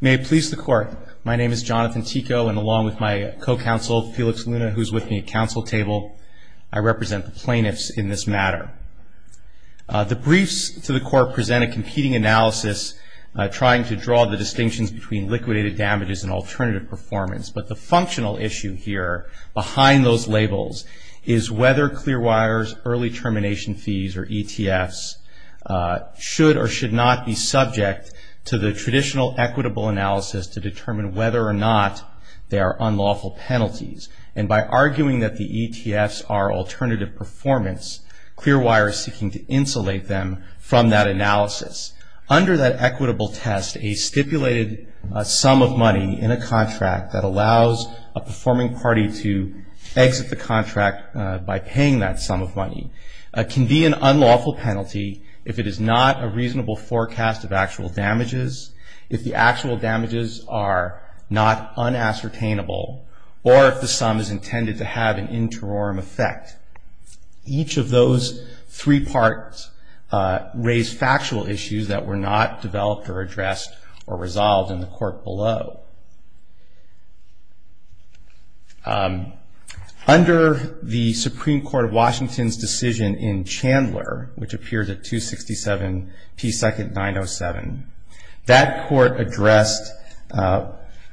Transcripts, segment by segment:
May it please the court, my name is Jonathan Tico and along with my co-counsel Felix Luna, who is with me at council table, I represent the plaintiffs in this matter. The briefs to the court present a competing analysis trying to draw the distinctions between liquidated damages and alternative performance, but the functional issue here behind those labels is whether Clearwire's early termination fees or ETFs should or should not be subject to the traditional equitable analysis to determine whether or not they are unlawful penalties. And by arguing that the ETFs are alternative performance, Clearwire is seeking to insulate them from that analysis. Under that equitable test, a stipulated sum of money in a contract that allows a performing party to exit the contract by paying that sum of money can be an unlawful penalty if it is not a reasonable forecast of actual damages, if the actual damages are not unascertainable, or if the sum is intended to have an interim effect. Each of those three parts raise factual issues that were not developed or addressed or resolved in the court below. Under the Supreme Court of Washington's decision in Chandler, which appears at 267 P. 2nd. 907, that court addressed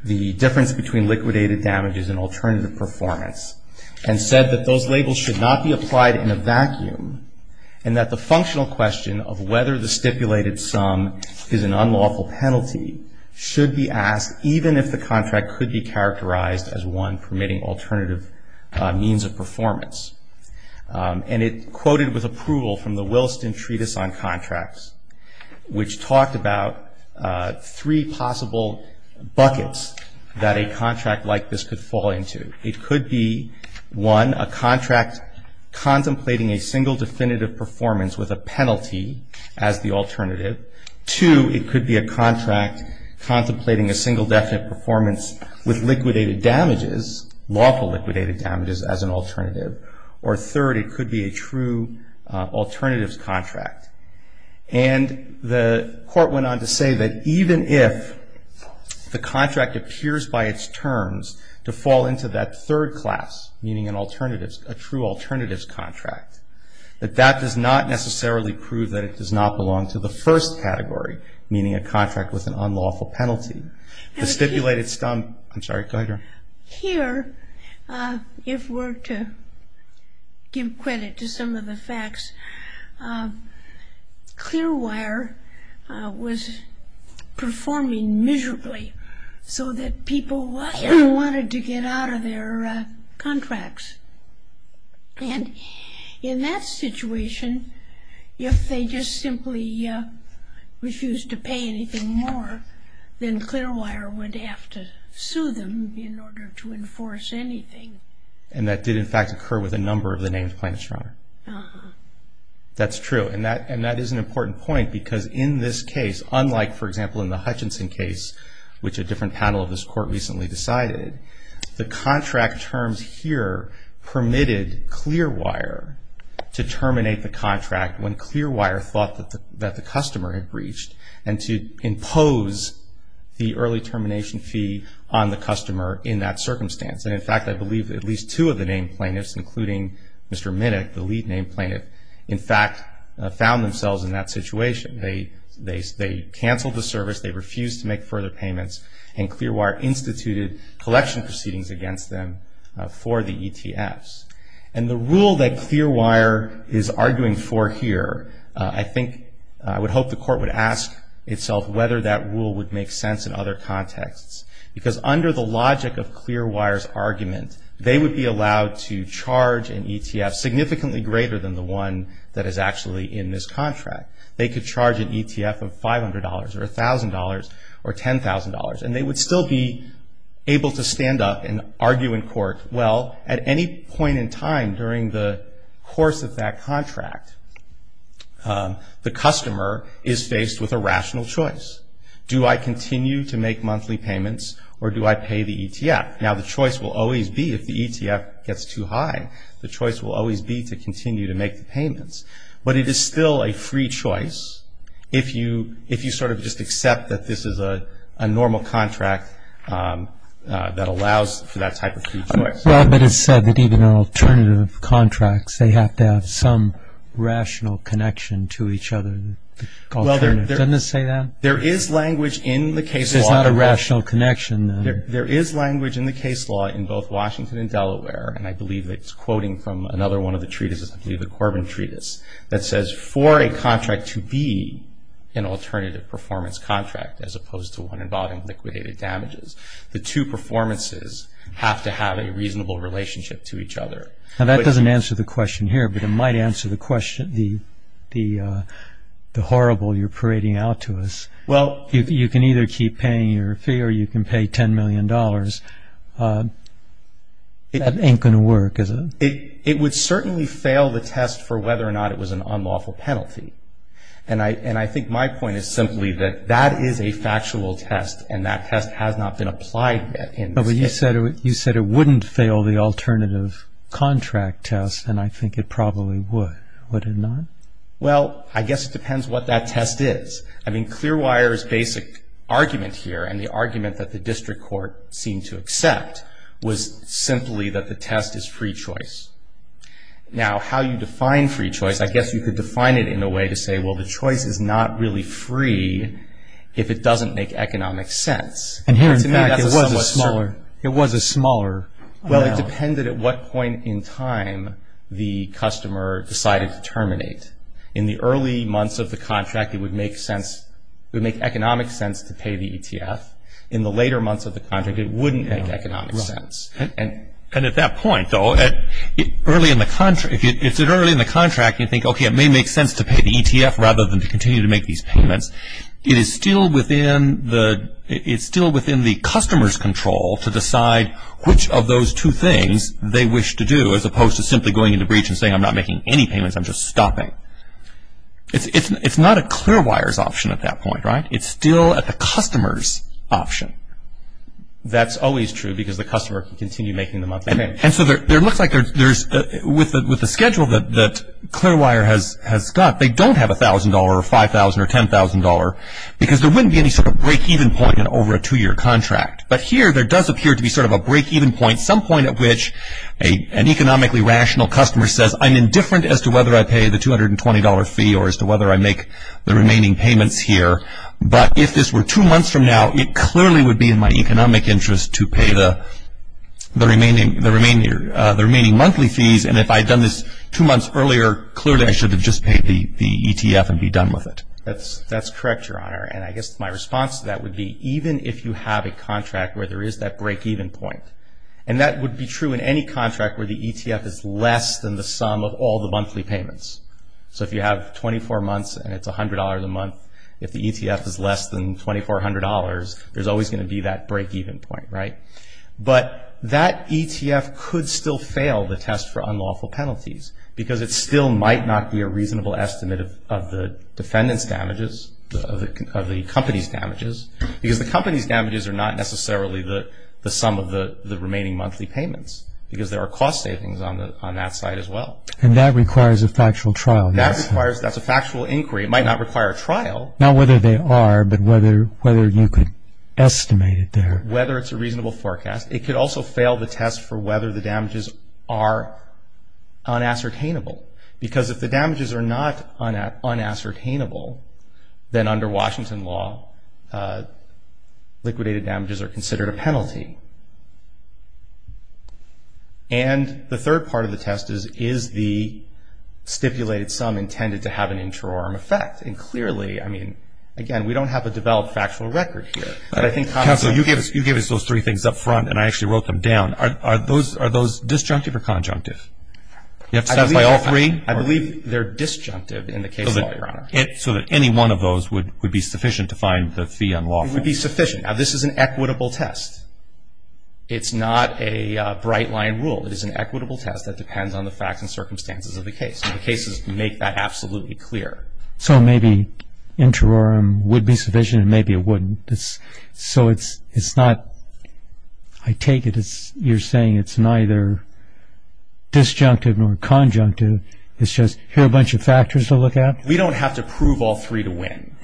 the difference between liquidated damages and alternative performance and said that those labels should not be applied in a vacuum and that the functional question of could be characterized as one permitting alternative means of performance. And it quoted with approval from the Williston Treatise on Contracts, which talked about three possible buckets that a contract like this could fall into. It could be, one, a contract contemplating a single definite performance with liquidated damages, lawful liquidated damages as an alternative. Or third, it could be a true alternatives contract. And the court went on to say that even if the contract appears by its terms to fall into that third class, meaning an alternatives, a true alternatives contract, that that does not necessarily prove that it does not belong to the first category, meaning a contract with an alternative. Here, if we're to give credit to some of the facts, Clearwire was performing miserably so that people wanted to get out of their contracts. And In that situation, if they just simply refused to pay anything more, then Clearwire would have to sue them in order to enforce anything. And that did, in fact, occur with a number of the names plain and strong. Uh-huh. That's true. And that is an important point because in this case, unlike, for example, in the Hutchinson case, which a different panel of this to terminate the contract when Clearwire thought that the customer had breached and to impose the early termination fee on the customer in that circumstance. And in fact, I believe at least two of the named plaintiffs, including Mr. Minnick, the lead named plaintiff, in fact, found themselves in that situation. They canceled the service, they refused to make further payments, and Clearwire instituted collection proceedings against them for the ETFs. And the rule that Clearwire is arguing for here, I think, I would hope the court would ask itself whether that rule would make sense in other contexts. Because under the logic of Clearwire's argument, they would be allowed to charge an ETF significantly greater than the one that is actually in this contract. They could charge an ETF of $500 or $1,000 or $10,000, and they would still be able to stand up and argue in court, well, at any point in time during the course of that contract, the customer is faced with a rational choice. Do I continue to make monthly payments or do I pay the ETF? Now, the choice will always be, if the ETF gets too high, the choice will always be to continue to make the payments. But it is still a free choice if you sort of just accept that this is a normal contract that allows for that type of free choice. Well, but it's said that even alternative contracts, they have to have some rational connection to each other. Doesn't it say that? There is language in the case law. There's not a rational connection, then. There is language in the case law in both Washington and Delaware, and I believe it's quoting from another one of the treatises, I believe the Corbin Treatise, that says for a contract to be an alternative performance contract as opposed to one involving liquidated damages, the two performances have to have a reasonable relationship to each other. Now, that doesn't answer the question here, but it might answer the question, the horrible you're parading out to us. Well. You can either keep paying your fee or you can pay $10 million. That ain't going to work, is it? It would certainly fail the test for whether or not it was an unlawful penalty. And I think my point is simply that that is a factual test, and that test has not been applied yet in this case. But you said it wouldn't fail the alternative contract test, and I think it probably would. Would it not? Well, I guess it depends what that test is. I mean, Clearwire's basic argument here and the argument that the district court seemed to accept was simply that the test is free choice. Now, how you define free choice, I guess you could define it in a way to say, well, the choice is not really free if it doesn't make economic sense. And here in fact, it was a smaller amount. Well, it depended at what point in time the customer decided to terminate. In the early months of the contract, it would make economic sense to pay the ETF. In the later months of the contract, it wouldn't make economic sense. And at that point, though, early in the contract, you think, okay, it may make sense to pay the ETF rather than to continue to make these payments. It is still within the customer's control to decide which of those two things they wish to do, as opposed to simply going into breach and saying, I'm not making any payments, I'm just stopping. It's not a Clearwire's option at that point, right? It's still at the customer's option. That's always true because the customer can continue making the monthly payments. And so there looks like there's – with the schedule that Clearwire has got, they don't have $1,000 or $5,000 or $10,000 because there wouldn't be any sort of break-even point in over a two-year contract. But here, there does appear to be sort of a break-even point, some point at which an economically rational customer says, I'm indifferent as to whether I pay the $220 fee or as to whether I make the remaining payments here. But if this were two months from now, it clearly would be in my economic interest to pay the remaining monthly fees. And if I had done this two months earlier, clearly I should have just paid the ETF and be done with it. That's correct, Your Honor. And I guess my response to that would be, even if you have a contract where there is that break-even point, and that would be true in any contract where the ETF is less than the sum of all the monthly payments. So if you have 24 months and it's $100 a month, if the ETF is less than $2,400, there's always going to be that break-even point, right? But that ETF could still fail the test for unlawful penalties because it still might not be a reasonable estimate of the defendant's damages, of the company's damages, because the company's damages are not necessarily the sum of the remaining monthly payments because there are cost savings on that side as well. And that requires a factual trial, yes? That's a factual inquiry. It might not require a trial. Not whether they are, but whether you could estimate it there. Whether it's a reasonable forecast. It could also fail the test for whether the damages are unassertainable, because if the damages are not unassertainable, then under Washington law, liquidated damages are considered a penalty. And the third part of the test is, is the stipulated sum intended to have an interim effect? And clearly, I mean, again, we don't have a developed factual record here. But I think Congress... Counsel, you gave us those three things up front and I actually wrote them down. Are those disjunctive or conjunctive? I believe they're disjunctive in the case law, Your Honor. So that any one of those would be sufficient to find the fee unlawful? It would be sufficient. Now, this is an equitable test. It's not a bright line rule. It is an equitable test that depends on the facts and circumstances of the case. And the cases make that absolutely clear. So maybe interim would be sufficient and maybe it wouldn't. So it's not... I take it you're saying it's neither disjunctive nor conjunctive. It's just here are a bunch of factors to look at? We don't have to prove all three to win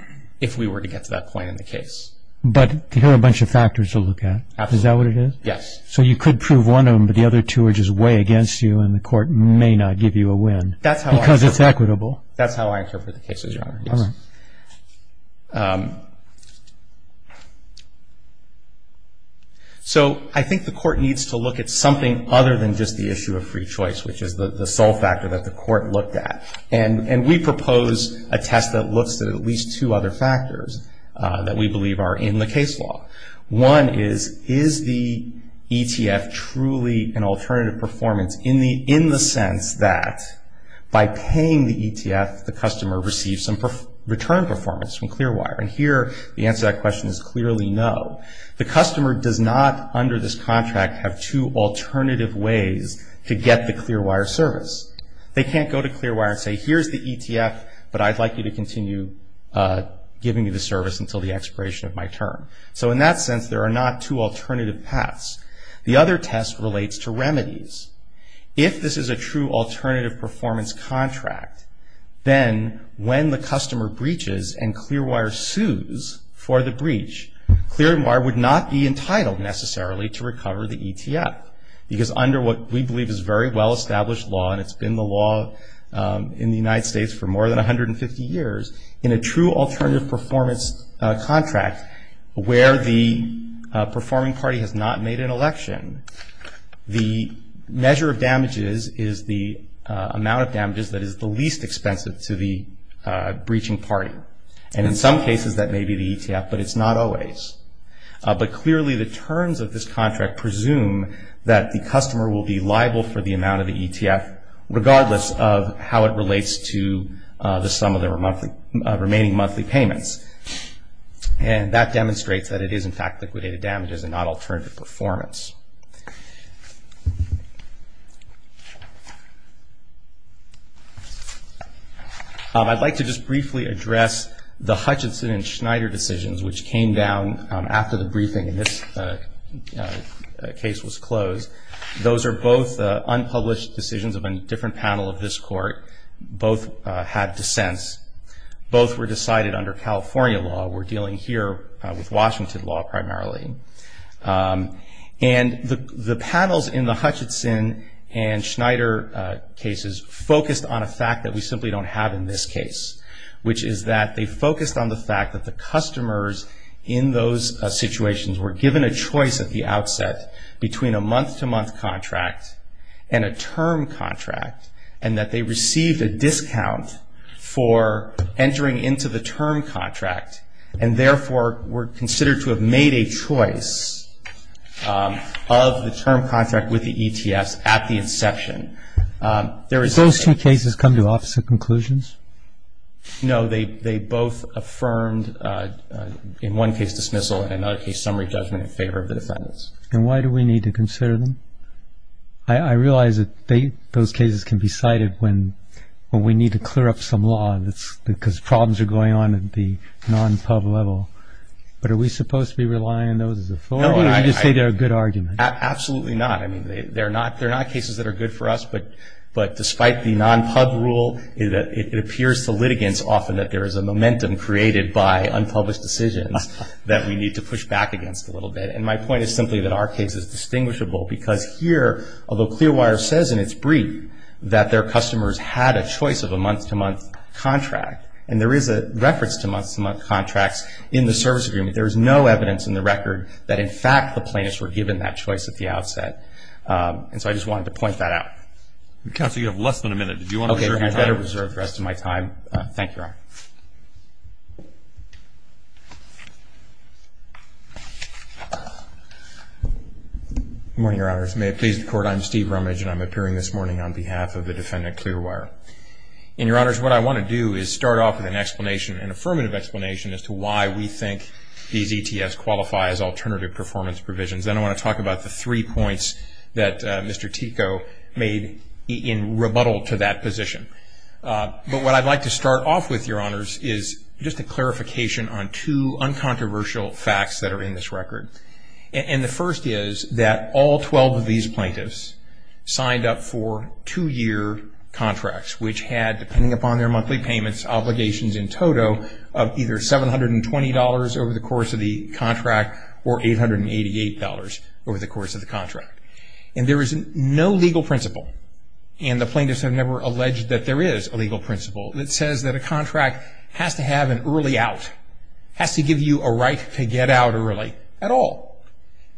if we were to get to that point in the case. But here are a bunch of factors to look at. Absolutely. Is that what it is? Yes. So you could prove one of them, but the other two are just way against you and the court may not give you a win because it's equitable. That's how I interpret the cases, Your Honor. All right. So I think the court needs to look at something other than just the issue of free choice, which is the sole factor that the court looked at. And we propose a test that looks at at least two other factors that we believe are in the case law. One is, is the ETF truly an alternative performance in the sense that by paying the ETF, the customer receives some return performance from ClearWire? And here the answer to that question is clearly no. The customer does not, under this contract, have two alternative ways to get the ClearWire service. They can't go to ClearWire and say, here's the ETF, but I'd like you to continue giving me the service until the expiration of my term. So in that sense, there are not two alternative paths. The other test relates to remedies. If this is a true alternative performance contract, then when the customer breaches and ClearWire sues for the breach, ClearWire would not be entitled necessarily to recover the ETF because under what we believe is very well-established law, and it's been the law in the United States for more than 150 years, in a true alternative performance contract where the performing party has not made an election, the measure of damages is the amount of damages that is the least expensive to the breaching party. And in some cases that may be the ETF, but it's not always. But clearly the terms of this contract presume that the customer will be liable for the amount of the ETF, regardless of how it relates to the sum of the remaining monthly payments. And that demonstrates that it is, in fact, liquidated damages and not alternative performance. I'd like to just briefly address the Hutchinson and Schneider decisions, which came down after the briefing and this case was closed. Those are both unpublished decisions of a different panel of this court. Both had dissents. Both were decided under California law. We're dealing here with Washington law primarily. And the panels in the Hutchinson and Schneider cases focused on a fact that we simply don't have in this case, which is that they focused on the fact that the customers in those situations were given a choice at the outset between a month-to-month contract and a term contract, and that they received a discount for entering into the term contract, and therefore were considered to have made a choice of the term contract with the ETFs at the inception. Did those two cases come to opposite conclusions? No. They both affirmed in one case dismissal and in another case summary judgment in favor of the defendants. And why do we need to consider them? I realize that those cases can be cited when we need to clear up some law because problems are going on at the non-pub level. But are we supposed to be relying on those as authority or do you just say they're a good argument? Absolutely not. I mean, they're not cases that are good for us, but despite the non-pub rule it appears to litigants often that there is a momentum created by unpublished decisions that we need to push back against a little bit. And my point is simply that our case is distinguishable because here, although Clearwire says in its brief that their customers had a choice of a month-to-month contract, and there is a reference to month-to-month contracts in the service agreement, there is no evidence in the record that in fact the plaintiffs were given that choice at the outset. And so I just wanted to point that out. Counsel, you have less than a minute. Did you want to reserve your time? Okay. I better reserve the rest of my time. Thank you, Your Honor. Good morning, Your Honors. May it please the Court, I'm Steve Rumage, and I'm appearing this morning on behalf of the defendant Clearwire. And, Your Honors, what I want to do is start off with an explanation, an affirmative explanation as to why we think these ETS qualify as alternative performance provisions. Then I want to talk about the three points that Mr. Tico made in rebuttal to that position. But what I'd like to start off with, Your Honors, is just a clarification on two uncontroversial facts that are in this record. And the first is that all 12 of these plaintiffs signed up for two-year contracts, which had, depending upon their monthly payments, obligations in total of either $720 over the course of the contract or $888 over the course of the contract. And there is no legal principle, and the plaintiffs have never alleged that there is a legal principle, that says that a contract has to have an early out, has to give you a right to get out early at all.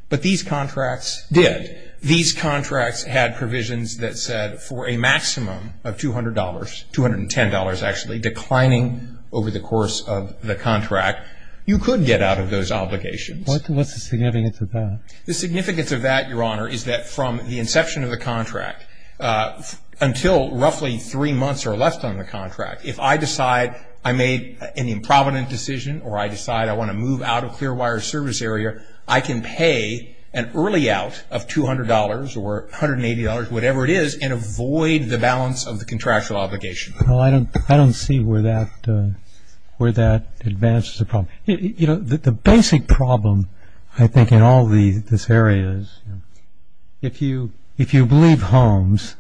But these contracts did. These contracts had provisions that said for a maximum of $200, $210 actually, declining over the course of the contract, you could get out of those obligations. What's the significance of that? The significance of that, Your Honor, is that from the inception of the contract until roughly three months or less on the contract, if I decide I made an improvident decision or I decide I want to move out of Clearwater Service Area, I can pay an early out of $200 or $180, whatever it is, and avoid the balance of the contractual obligation. Well, I don't see where that advances the problem. You know, the basic problem, I think, in all these areas, if you believe Holmes,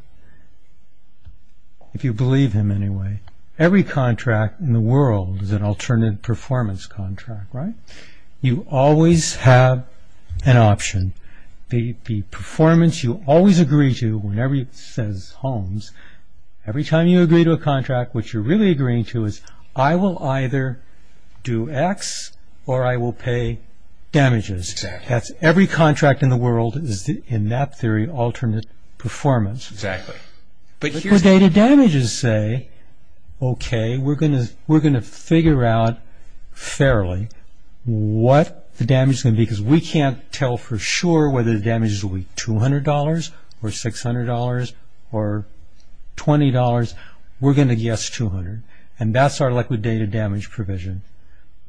if you believe him anyway, every contract in the world is an alternative performance contract, right? You always have an option. The performance you always agree to, whenever it says Holmes, every time you agree to a contract, what you're really agreeing to is, I will either do X or I will pay damages. Every contract in the world is, in that theory, alternate performance. For data damages, say, okay, we're going to figure out fairly what the damage is going to be because we can't tell for sure whether the damage is going to be $200 or $600 or $20. We're going to guess $200, and that's our liquidated damage provision.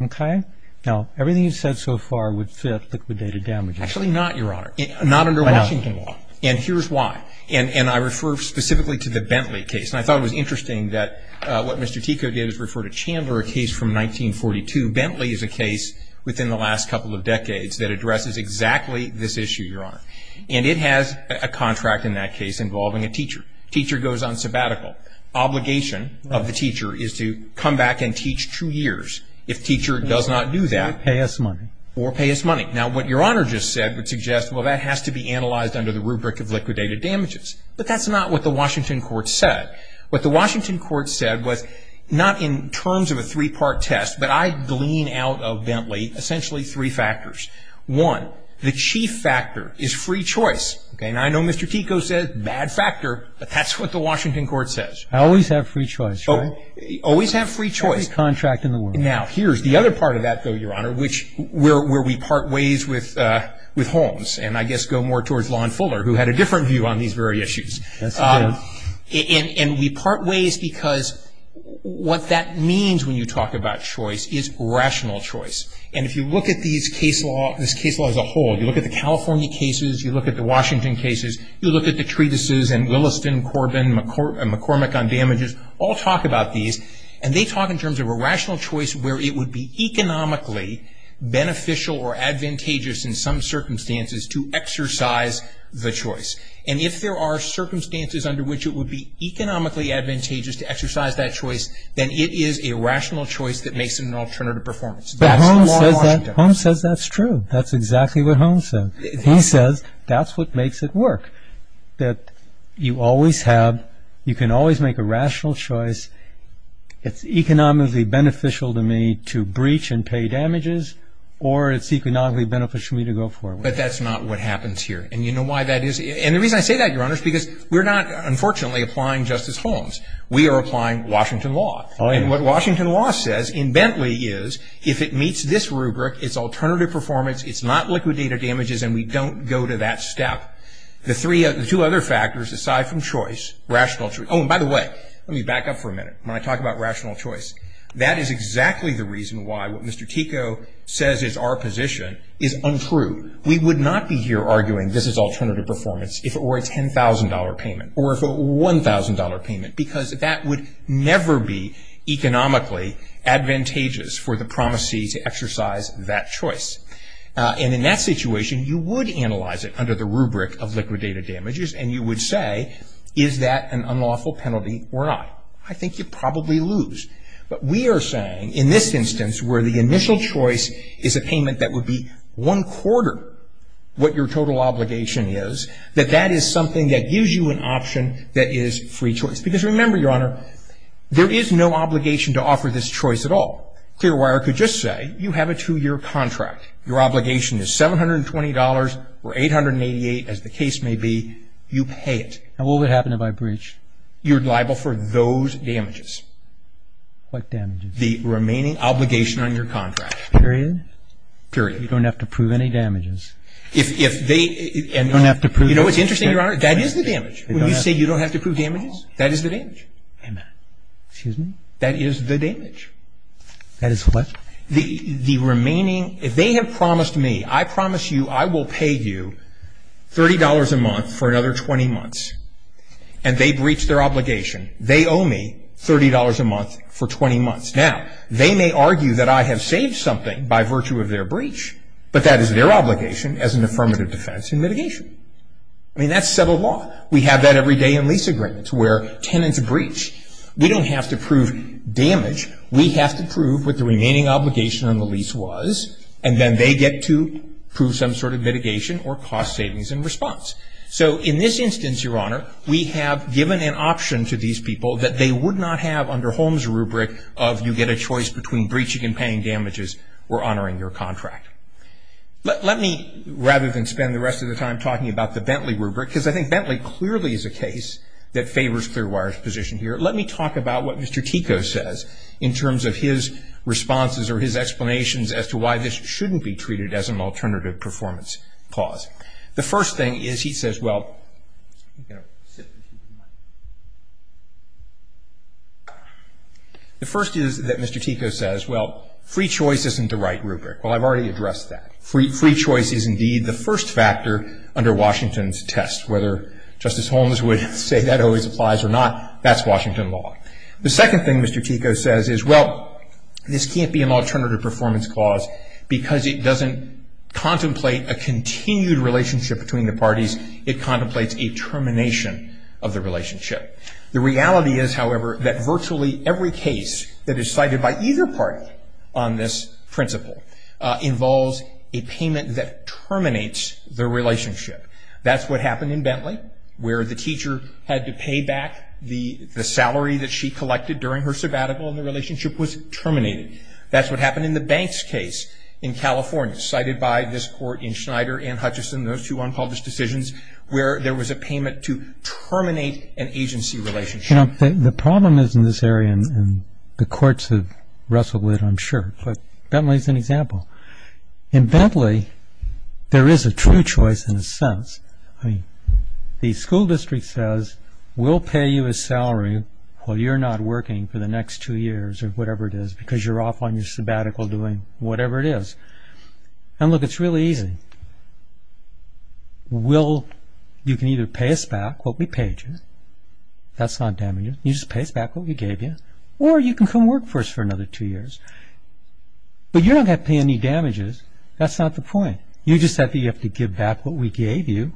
Okay? Now, everything you've said so far would fit liquidated damages. Actually not, Your Honor, not under Washington law, and here's why. And I refer specifically to the Bentley case, and I thought it was interesting that what Mr. Tico did is refer to Chandler, a case from 1942. Bentley is a case within the last couple of decades that addresses exactly this issue, Your Honor, and it has a contract in that case involving a teacher. Teacher goes on sabbatical. Obligation of the teacher is to come back and teach two years. If teacher does not do that. Or pay us money. Or pay us money. Now, what Your Honor just said would suggest, well, that has to be analyzed under the rubric of liquidated damages, but that's not what the Washington court said. What the Washington court said was not in terms of a three-part test, but I glean out of Bentley essentially three factors. One, the chief factor is free choice. And I know Mr. Tico said bad factor, but that's what the Washington court says. I always have free choice, right? Always have free choice. Free contract in the world. Now, here's the other part of that, though, Your Honor, where we part ways with Holmes and I guess go more towards Lon Fuller, who had a different view on these very issues. That's true. And we part ways because what that means when you talk about choice is rational choice. And if you look at this case law as a whole, you look at the California cases, you look at the Washington cases, you look at the treatises and Williston, Corbin, McCormick on damages all talk about these. And they talk in terms of a rational choice where it would be economically beneficial or advantageous in some circumstances to exercise the choice. And if there are circumstances under which it would be economically advantageous to exercise that choice, then it is a rational choice that makes an alternative performance. That's the law of Washington. But Holmes says that's true. That's exactly what Holmes said. He says that's what makes it work, that you always have, you can always make a rational choice. It's economically beneficial to me to breach and pay damages or it's economically beneficial to me to go forward. But that's not what happens here. And you know why that is? And the reason I say that, Your Honor, is because we're not, unfortunately, applying Justice Holmes. We are applying Washington law. And what Washington law says in Bentley is if it meets this rubric, it's alternative performance, it's not liquidated damages, and we don't go to that step. The two other factors aside from choice, rational choice. Oh, and by the way, let me back up for a minute when I talk about rational choice. That is exactly the reason why what Mr. Tico says is our position is untrue. We would not be here arguing this is alternative performance if it were a $10,000 payment or if it were a $1,000 payment because that would never be economically advantageous for the promisee to exercise that choice. And in that situation, you would analyze it under the rubric of liquidated damages, and you would say is that an unlawful penalty or not? I think you'd probably lose. But we are saying in this instance where the initial choice is a payment that would be one quarter what your total obligation is, that that is something that gives you an option that is free choice. Because remember, Your Honor, there is no obligation to offer this choice at all. Clearwater could just say you have a two-year contract. Your obligation is $720 or $888, as the case may be. You pay it. And what would happen if I breached? You're liable for those damages. What damages? The remaining obligation on your contract. Period? You don't have to prove any damages. You know what's interesting, Your Honor? That is the damage. When you say you don't have to prove damages, that is the damage. Excuse me? That is the damage. That is what? The remaining, if they have promised me, I promise you I will pay you $30 a month for another 20 months, and they breach their obligation, they owe me $30 a month for 20 months. Now, they may argue that I have saved something by virtue of their breach, but that is their obligation as an affirmative defense in mitigation. I mean, that's civil law. We have that every day in lease agreements where tenants breach. We don't have to prove damage. We have to prove what the remaining obligation on the lease was, and then they get to prove some sort of mitigation or cost savings in response. So in this instance, Your Honor, we have given an option to these people that they would not have under Holmes' rubric of you get a choice between breaching and paying damages or honoring your contract. Let me, rather than spend the rest of the time talking about the Bentley rubric, because I think Bentley clearly is a case that favors Clearwater's position here, let me talk about what Mr. Tico says in terms of his responses or his explanations as to why this shouldn't be treated as an alternative performance clause. The first thing is he says, well, the first is that Mr. Tico says, well, free choice isn't the right rubric. Well, I've already addressed that. Free choice is indeed the first factor under Washington's test. Whether Justice Holmes would say that always applies or not, that's Washington law. The second thing Mr. Tico says is, well, this can't be an alternative performance clause because it doesn't contemplate a continued relationship between the parties. It contemplates a termination of the relationship. The reality is, however, that virtually every case that is cited by either party on this principle involves a payment that terminates the relationship. That's what happened in Bentley where the teacher had to pay back the salary that she collected during her sabbatical and the relationship was terminated. That's what happened in the Banks case in California cited by this court in Schneider and Hutchison, those two unpublished decisions, where there was a payment to terminate an agency relationship. You know, the problem is in this area, and the courts have wrestled with it, I'm sure, but Bentley is an example. In Bentley, there is a true choice in a sense. The school district says, we'll pay you a salary while you're not working for the next two years or whatever it is because you're off on your sabbatical doing whatever it is. And look, it's really easy. You can either pay us back what we paid you. That's not damages. You just pay us back what we gave you. Or you can come work for us for another two years. But you don't have to pay any damages. That's not the point. You just have to give back what we gave you.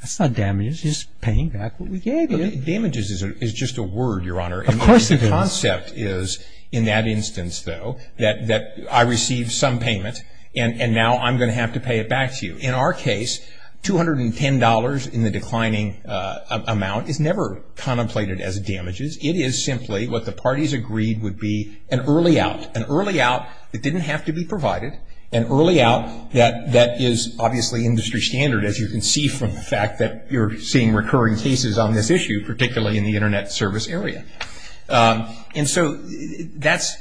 That's not damages. It's paying back what we gave you. Damages is just a word, Your Honor. Of course it is. The concept is, in that instance, though, that I received some payment and now I'm going to have to pay it back to you. In our case, $210 in the declining amount is never contemplated as damages. It is simply what the parties agreed would be an early out. An early out that didn't have to be provided. An early out that is obviously industry standard, as you can see from the fact that you're seeing recurring cases on this issue, particularly in the Internet service area. And so the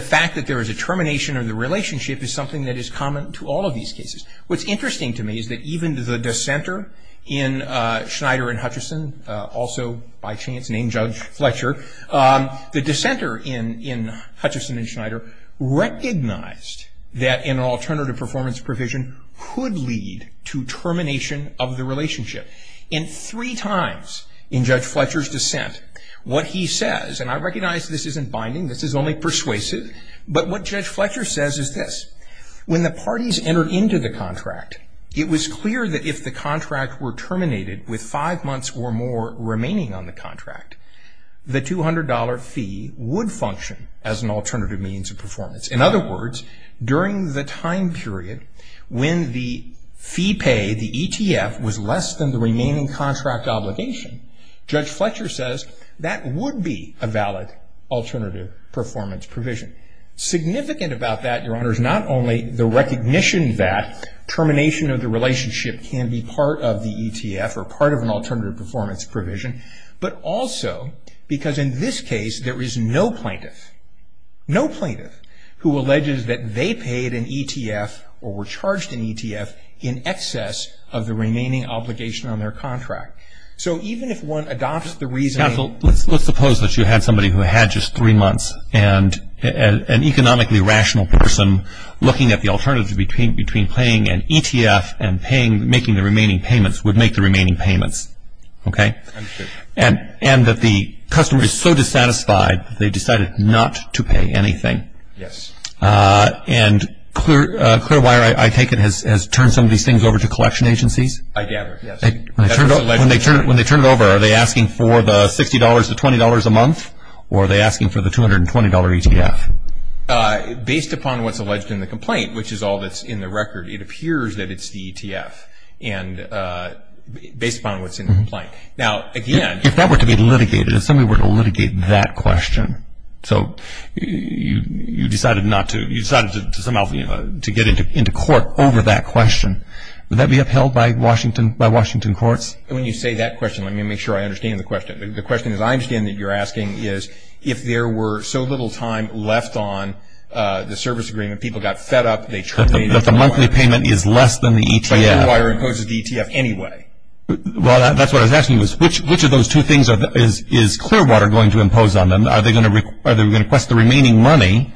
fact that there is a termination of the relationship is something that is common to all of these cases. What's interesting to me is that even the dissenter in Schneider and Hutcherson, also by chance named Judge Fletcher, the dissenter in Hutcherson and Schneider recognized that an alternative performance provision could lead to termination of the relationship. In three times in Judge Fletcher's dissent, what he says, and I recognize this isn't binding, this is only persuasive, but what Judge Fletcher says is this. When the parties entered into the contract, it was clear that if the contract were terminated with five months or more remaining on the contract, the $200 fee would function as an alternative means of performance. In other words, during the time period when the fee pay, the ETF was less than the remaining contract obligation, Judge Fletcher says that would be a valid alternative performance provision. Significant about that, Your Honor, is not only the recognition that termination of the relationship can be part of the ETF or part of an alternative performance provision, but also because in this case there is no plaintiff, no plaintiff who alleges that they paid an ETF or were charged an ETF in excess of the remaining obligation on their contract. So even if one adopts the reasoning- Counsel, let's suppose that you had somebody who had just three months and an economically rational person looking at the alternative between paying an ETF and making the remaining payments would make the remaining payments, okay? Understood. And that the customer is so dissatisfied they decided not to pay anything. Yes. And Clearwire, I take it, has turned some of these things over to collection agencies? I gather, yes. When they turn it over, are they asking for the $60 to $20 a month? Or are they asking for the $220 ETF? Based upon what's alleged in the complaint, which is all that's in the record, it appears that it's the ETF based upon what's in the complaint. Now, again- If that were to be litigated, if somebody were to litigate that question, so you decided to somehow get into court over that question, would that be upheld by Washington courts? When you say that question, let me make sure I understand the question. The question that I understand that you're asking is if there were so little time left on the service agreement, people got fed up, they- That the monthly payment is less than the ETF. But Clearwire imposes the ETF anyway. Well, that's what I was asking, which of those two things is Clearwire going to impose on them? Are they going to request the remaining money,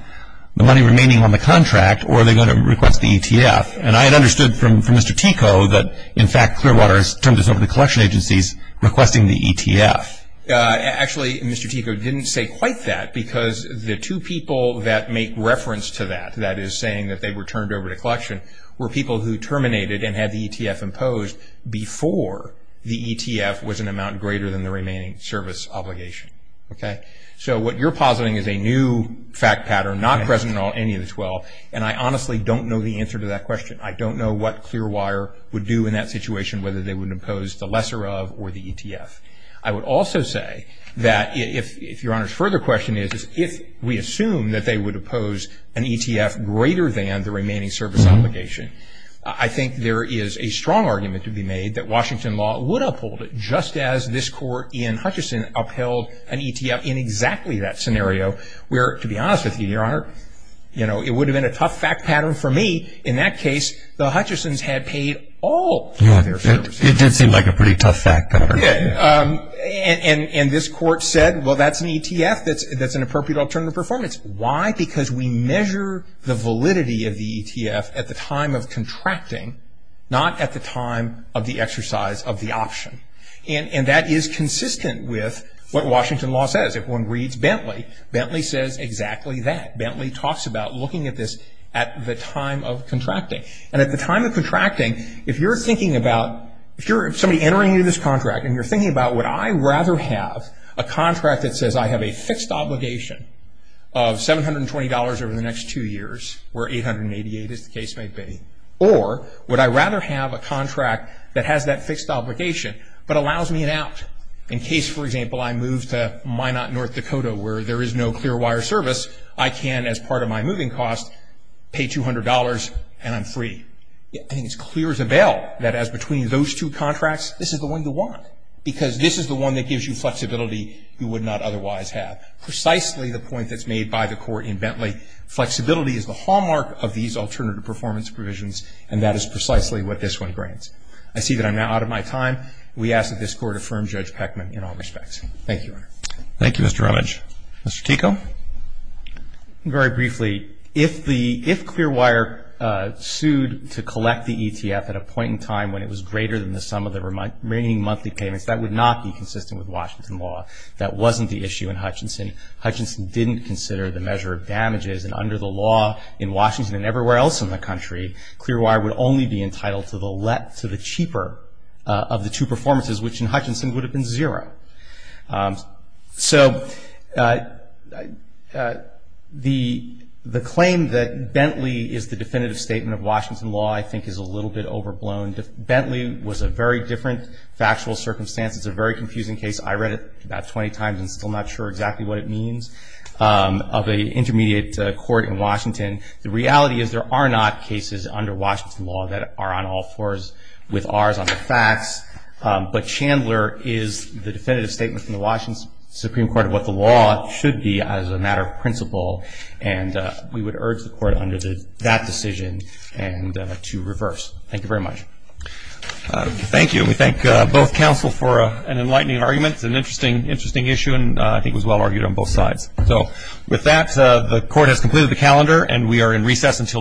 the money remaining on the contract, or are they going to request the ETF? And I had understood from Mr. Tico that, in fact, Clearwater has turned us over to collection agencies requesting the ETF. Actually, Mr. Tico didn't say quite that, because the two people that make reference to that, that is saying that they were turned over to collection, were people who terminated and had the ETF imposed before the ETF was an amount greater than the remaining service obligation. Okay? So what you're positing is a new fact pattern, not present in any of the 12, and I honestly don't know the answer to that question. I don't know what Clearwire would do in that situation, whether they would impose the lesser of or the ETF. I would also say that, if Your Honor's further question is, if we assume that they would impose an ETF greater than the remaining service obligation, I think there is a strong argument to be made that Washington law would uphold it, just as this court in Hutchison upheld an ETF in exactly that scenario, where, to be honest with you, Your Honor, it would have been a tough fact pattern for me. In that case, the Hutchisons had paid all of their services. It did seem like a pretty tough fact pattern. And this court said, well, that's an ETF, that's an appropriate alternative performance. Why? Because we measure the validity of the ETF at the time of contracting, not at the time of the exercise of the option. And that is consistent with what Washington law says. If one reads Bentley, Bentley says exactly that. Bentley talks about looking at this at the time of contracting. And at the time of contracting, if you're thinking about, if you're somebody entering into this contract, and you're thinking about, would I rather have a contract that says, I have a fixed obligation of $720 over the next two years, where $888, as the case may be, or would I rather have a contract that has that fixed obligation, but allows me an out? In case, for example, I move to Minot, North Dakota, where there is no clear wire service, I can, as part of my moving cost, pay $200 and I'm free. I think it's clear as a bell that as between those two contracts, this is the one you want, because this is the one that gives you flexibility you would not otherwise have. Precisely the point that's made by the court in Bentley, flexibility is the hallmark of these alternative performance provisions, and that is precisely what this one grants. I see that I'm now out of my time. We ask that this Court affirm Judge Peckman in all respects. Thank you, Your Honor. Thank you, Mr. Rumage. Mr. Tico? Very briefly, if the, if clear wire sued to collect the ETF at a point in time when it was greater than the sum of the remaining monthly payments, that would not be consistent with Washington law. That wasn't the issue in Hutchinson. Hutchinson didn't consider the measure of damages, and under the law in Washington and everywhere else in the country, clear wire would only be entitled to the cheaper of the two performances, which in Hutchinson would have been zero. So the claim that Bentley is the definitive statement of Washington law, I think, is a little bit overblown. Bentley was a very different factual circumstance. It's a very confusing case. I read it about 20 times and still not sure exactly what it means, of an intermediate court in Washington. The reality is there are not cases under Washington law that are on all fours with Rs on the facts, but Chandler is the definitive statement from the Washington Supreme Court of what the law should be as a matter of principle, and we would urge the Court under that decision to reverse. Thank you very much. Thank you. We thank both counsel for an enlightening argument. It's an interesting issue, and I think it was well-argued on both sides. With that, the Court has completed the calendar, and we are in recess until tomorrow.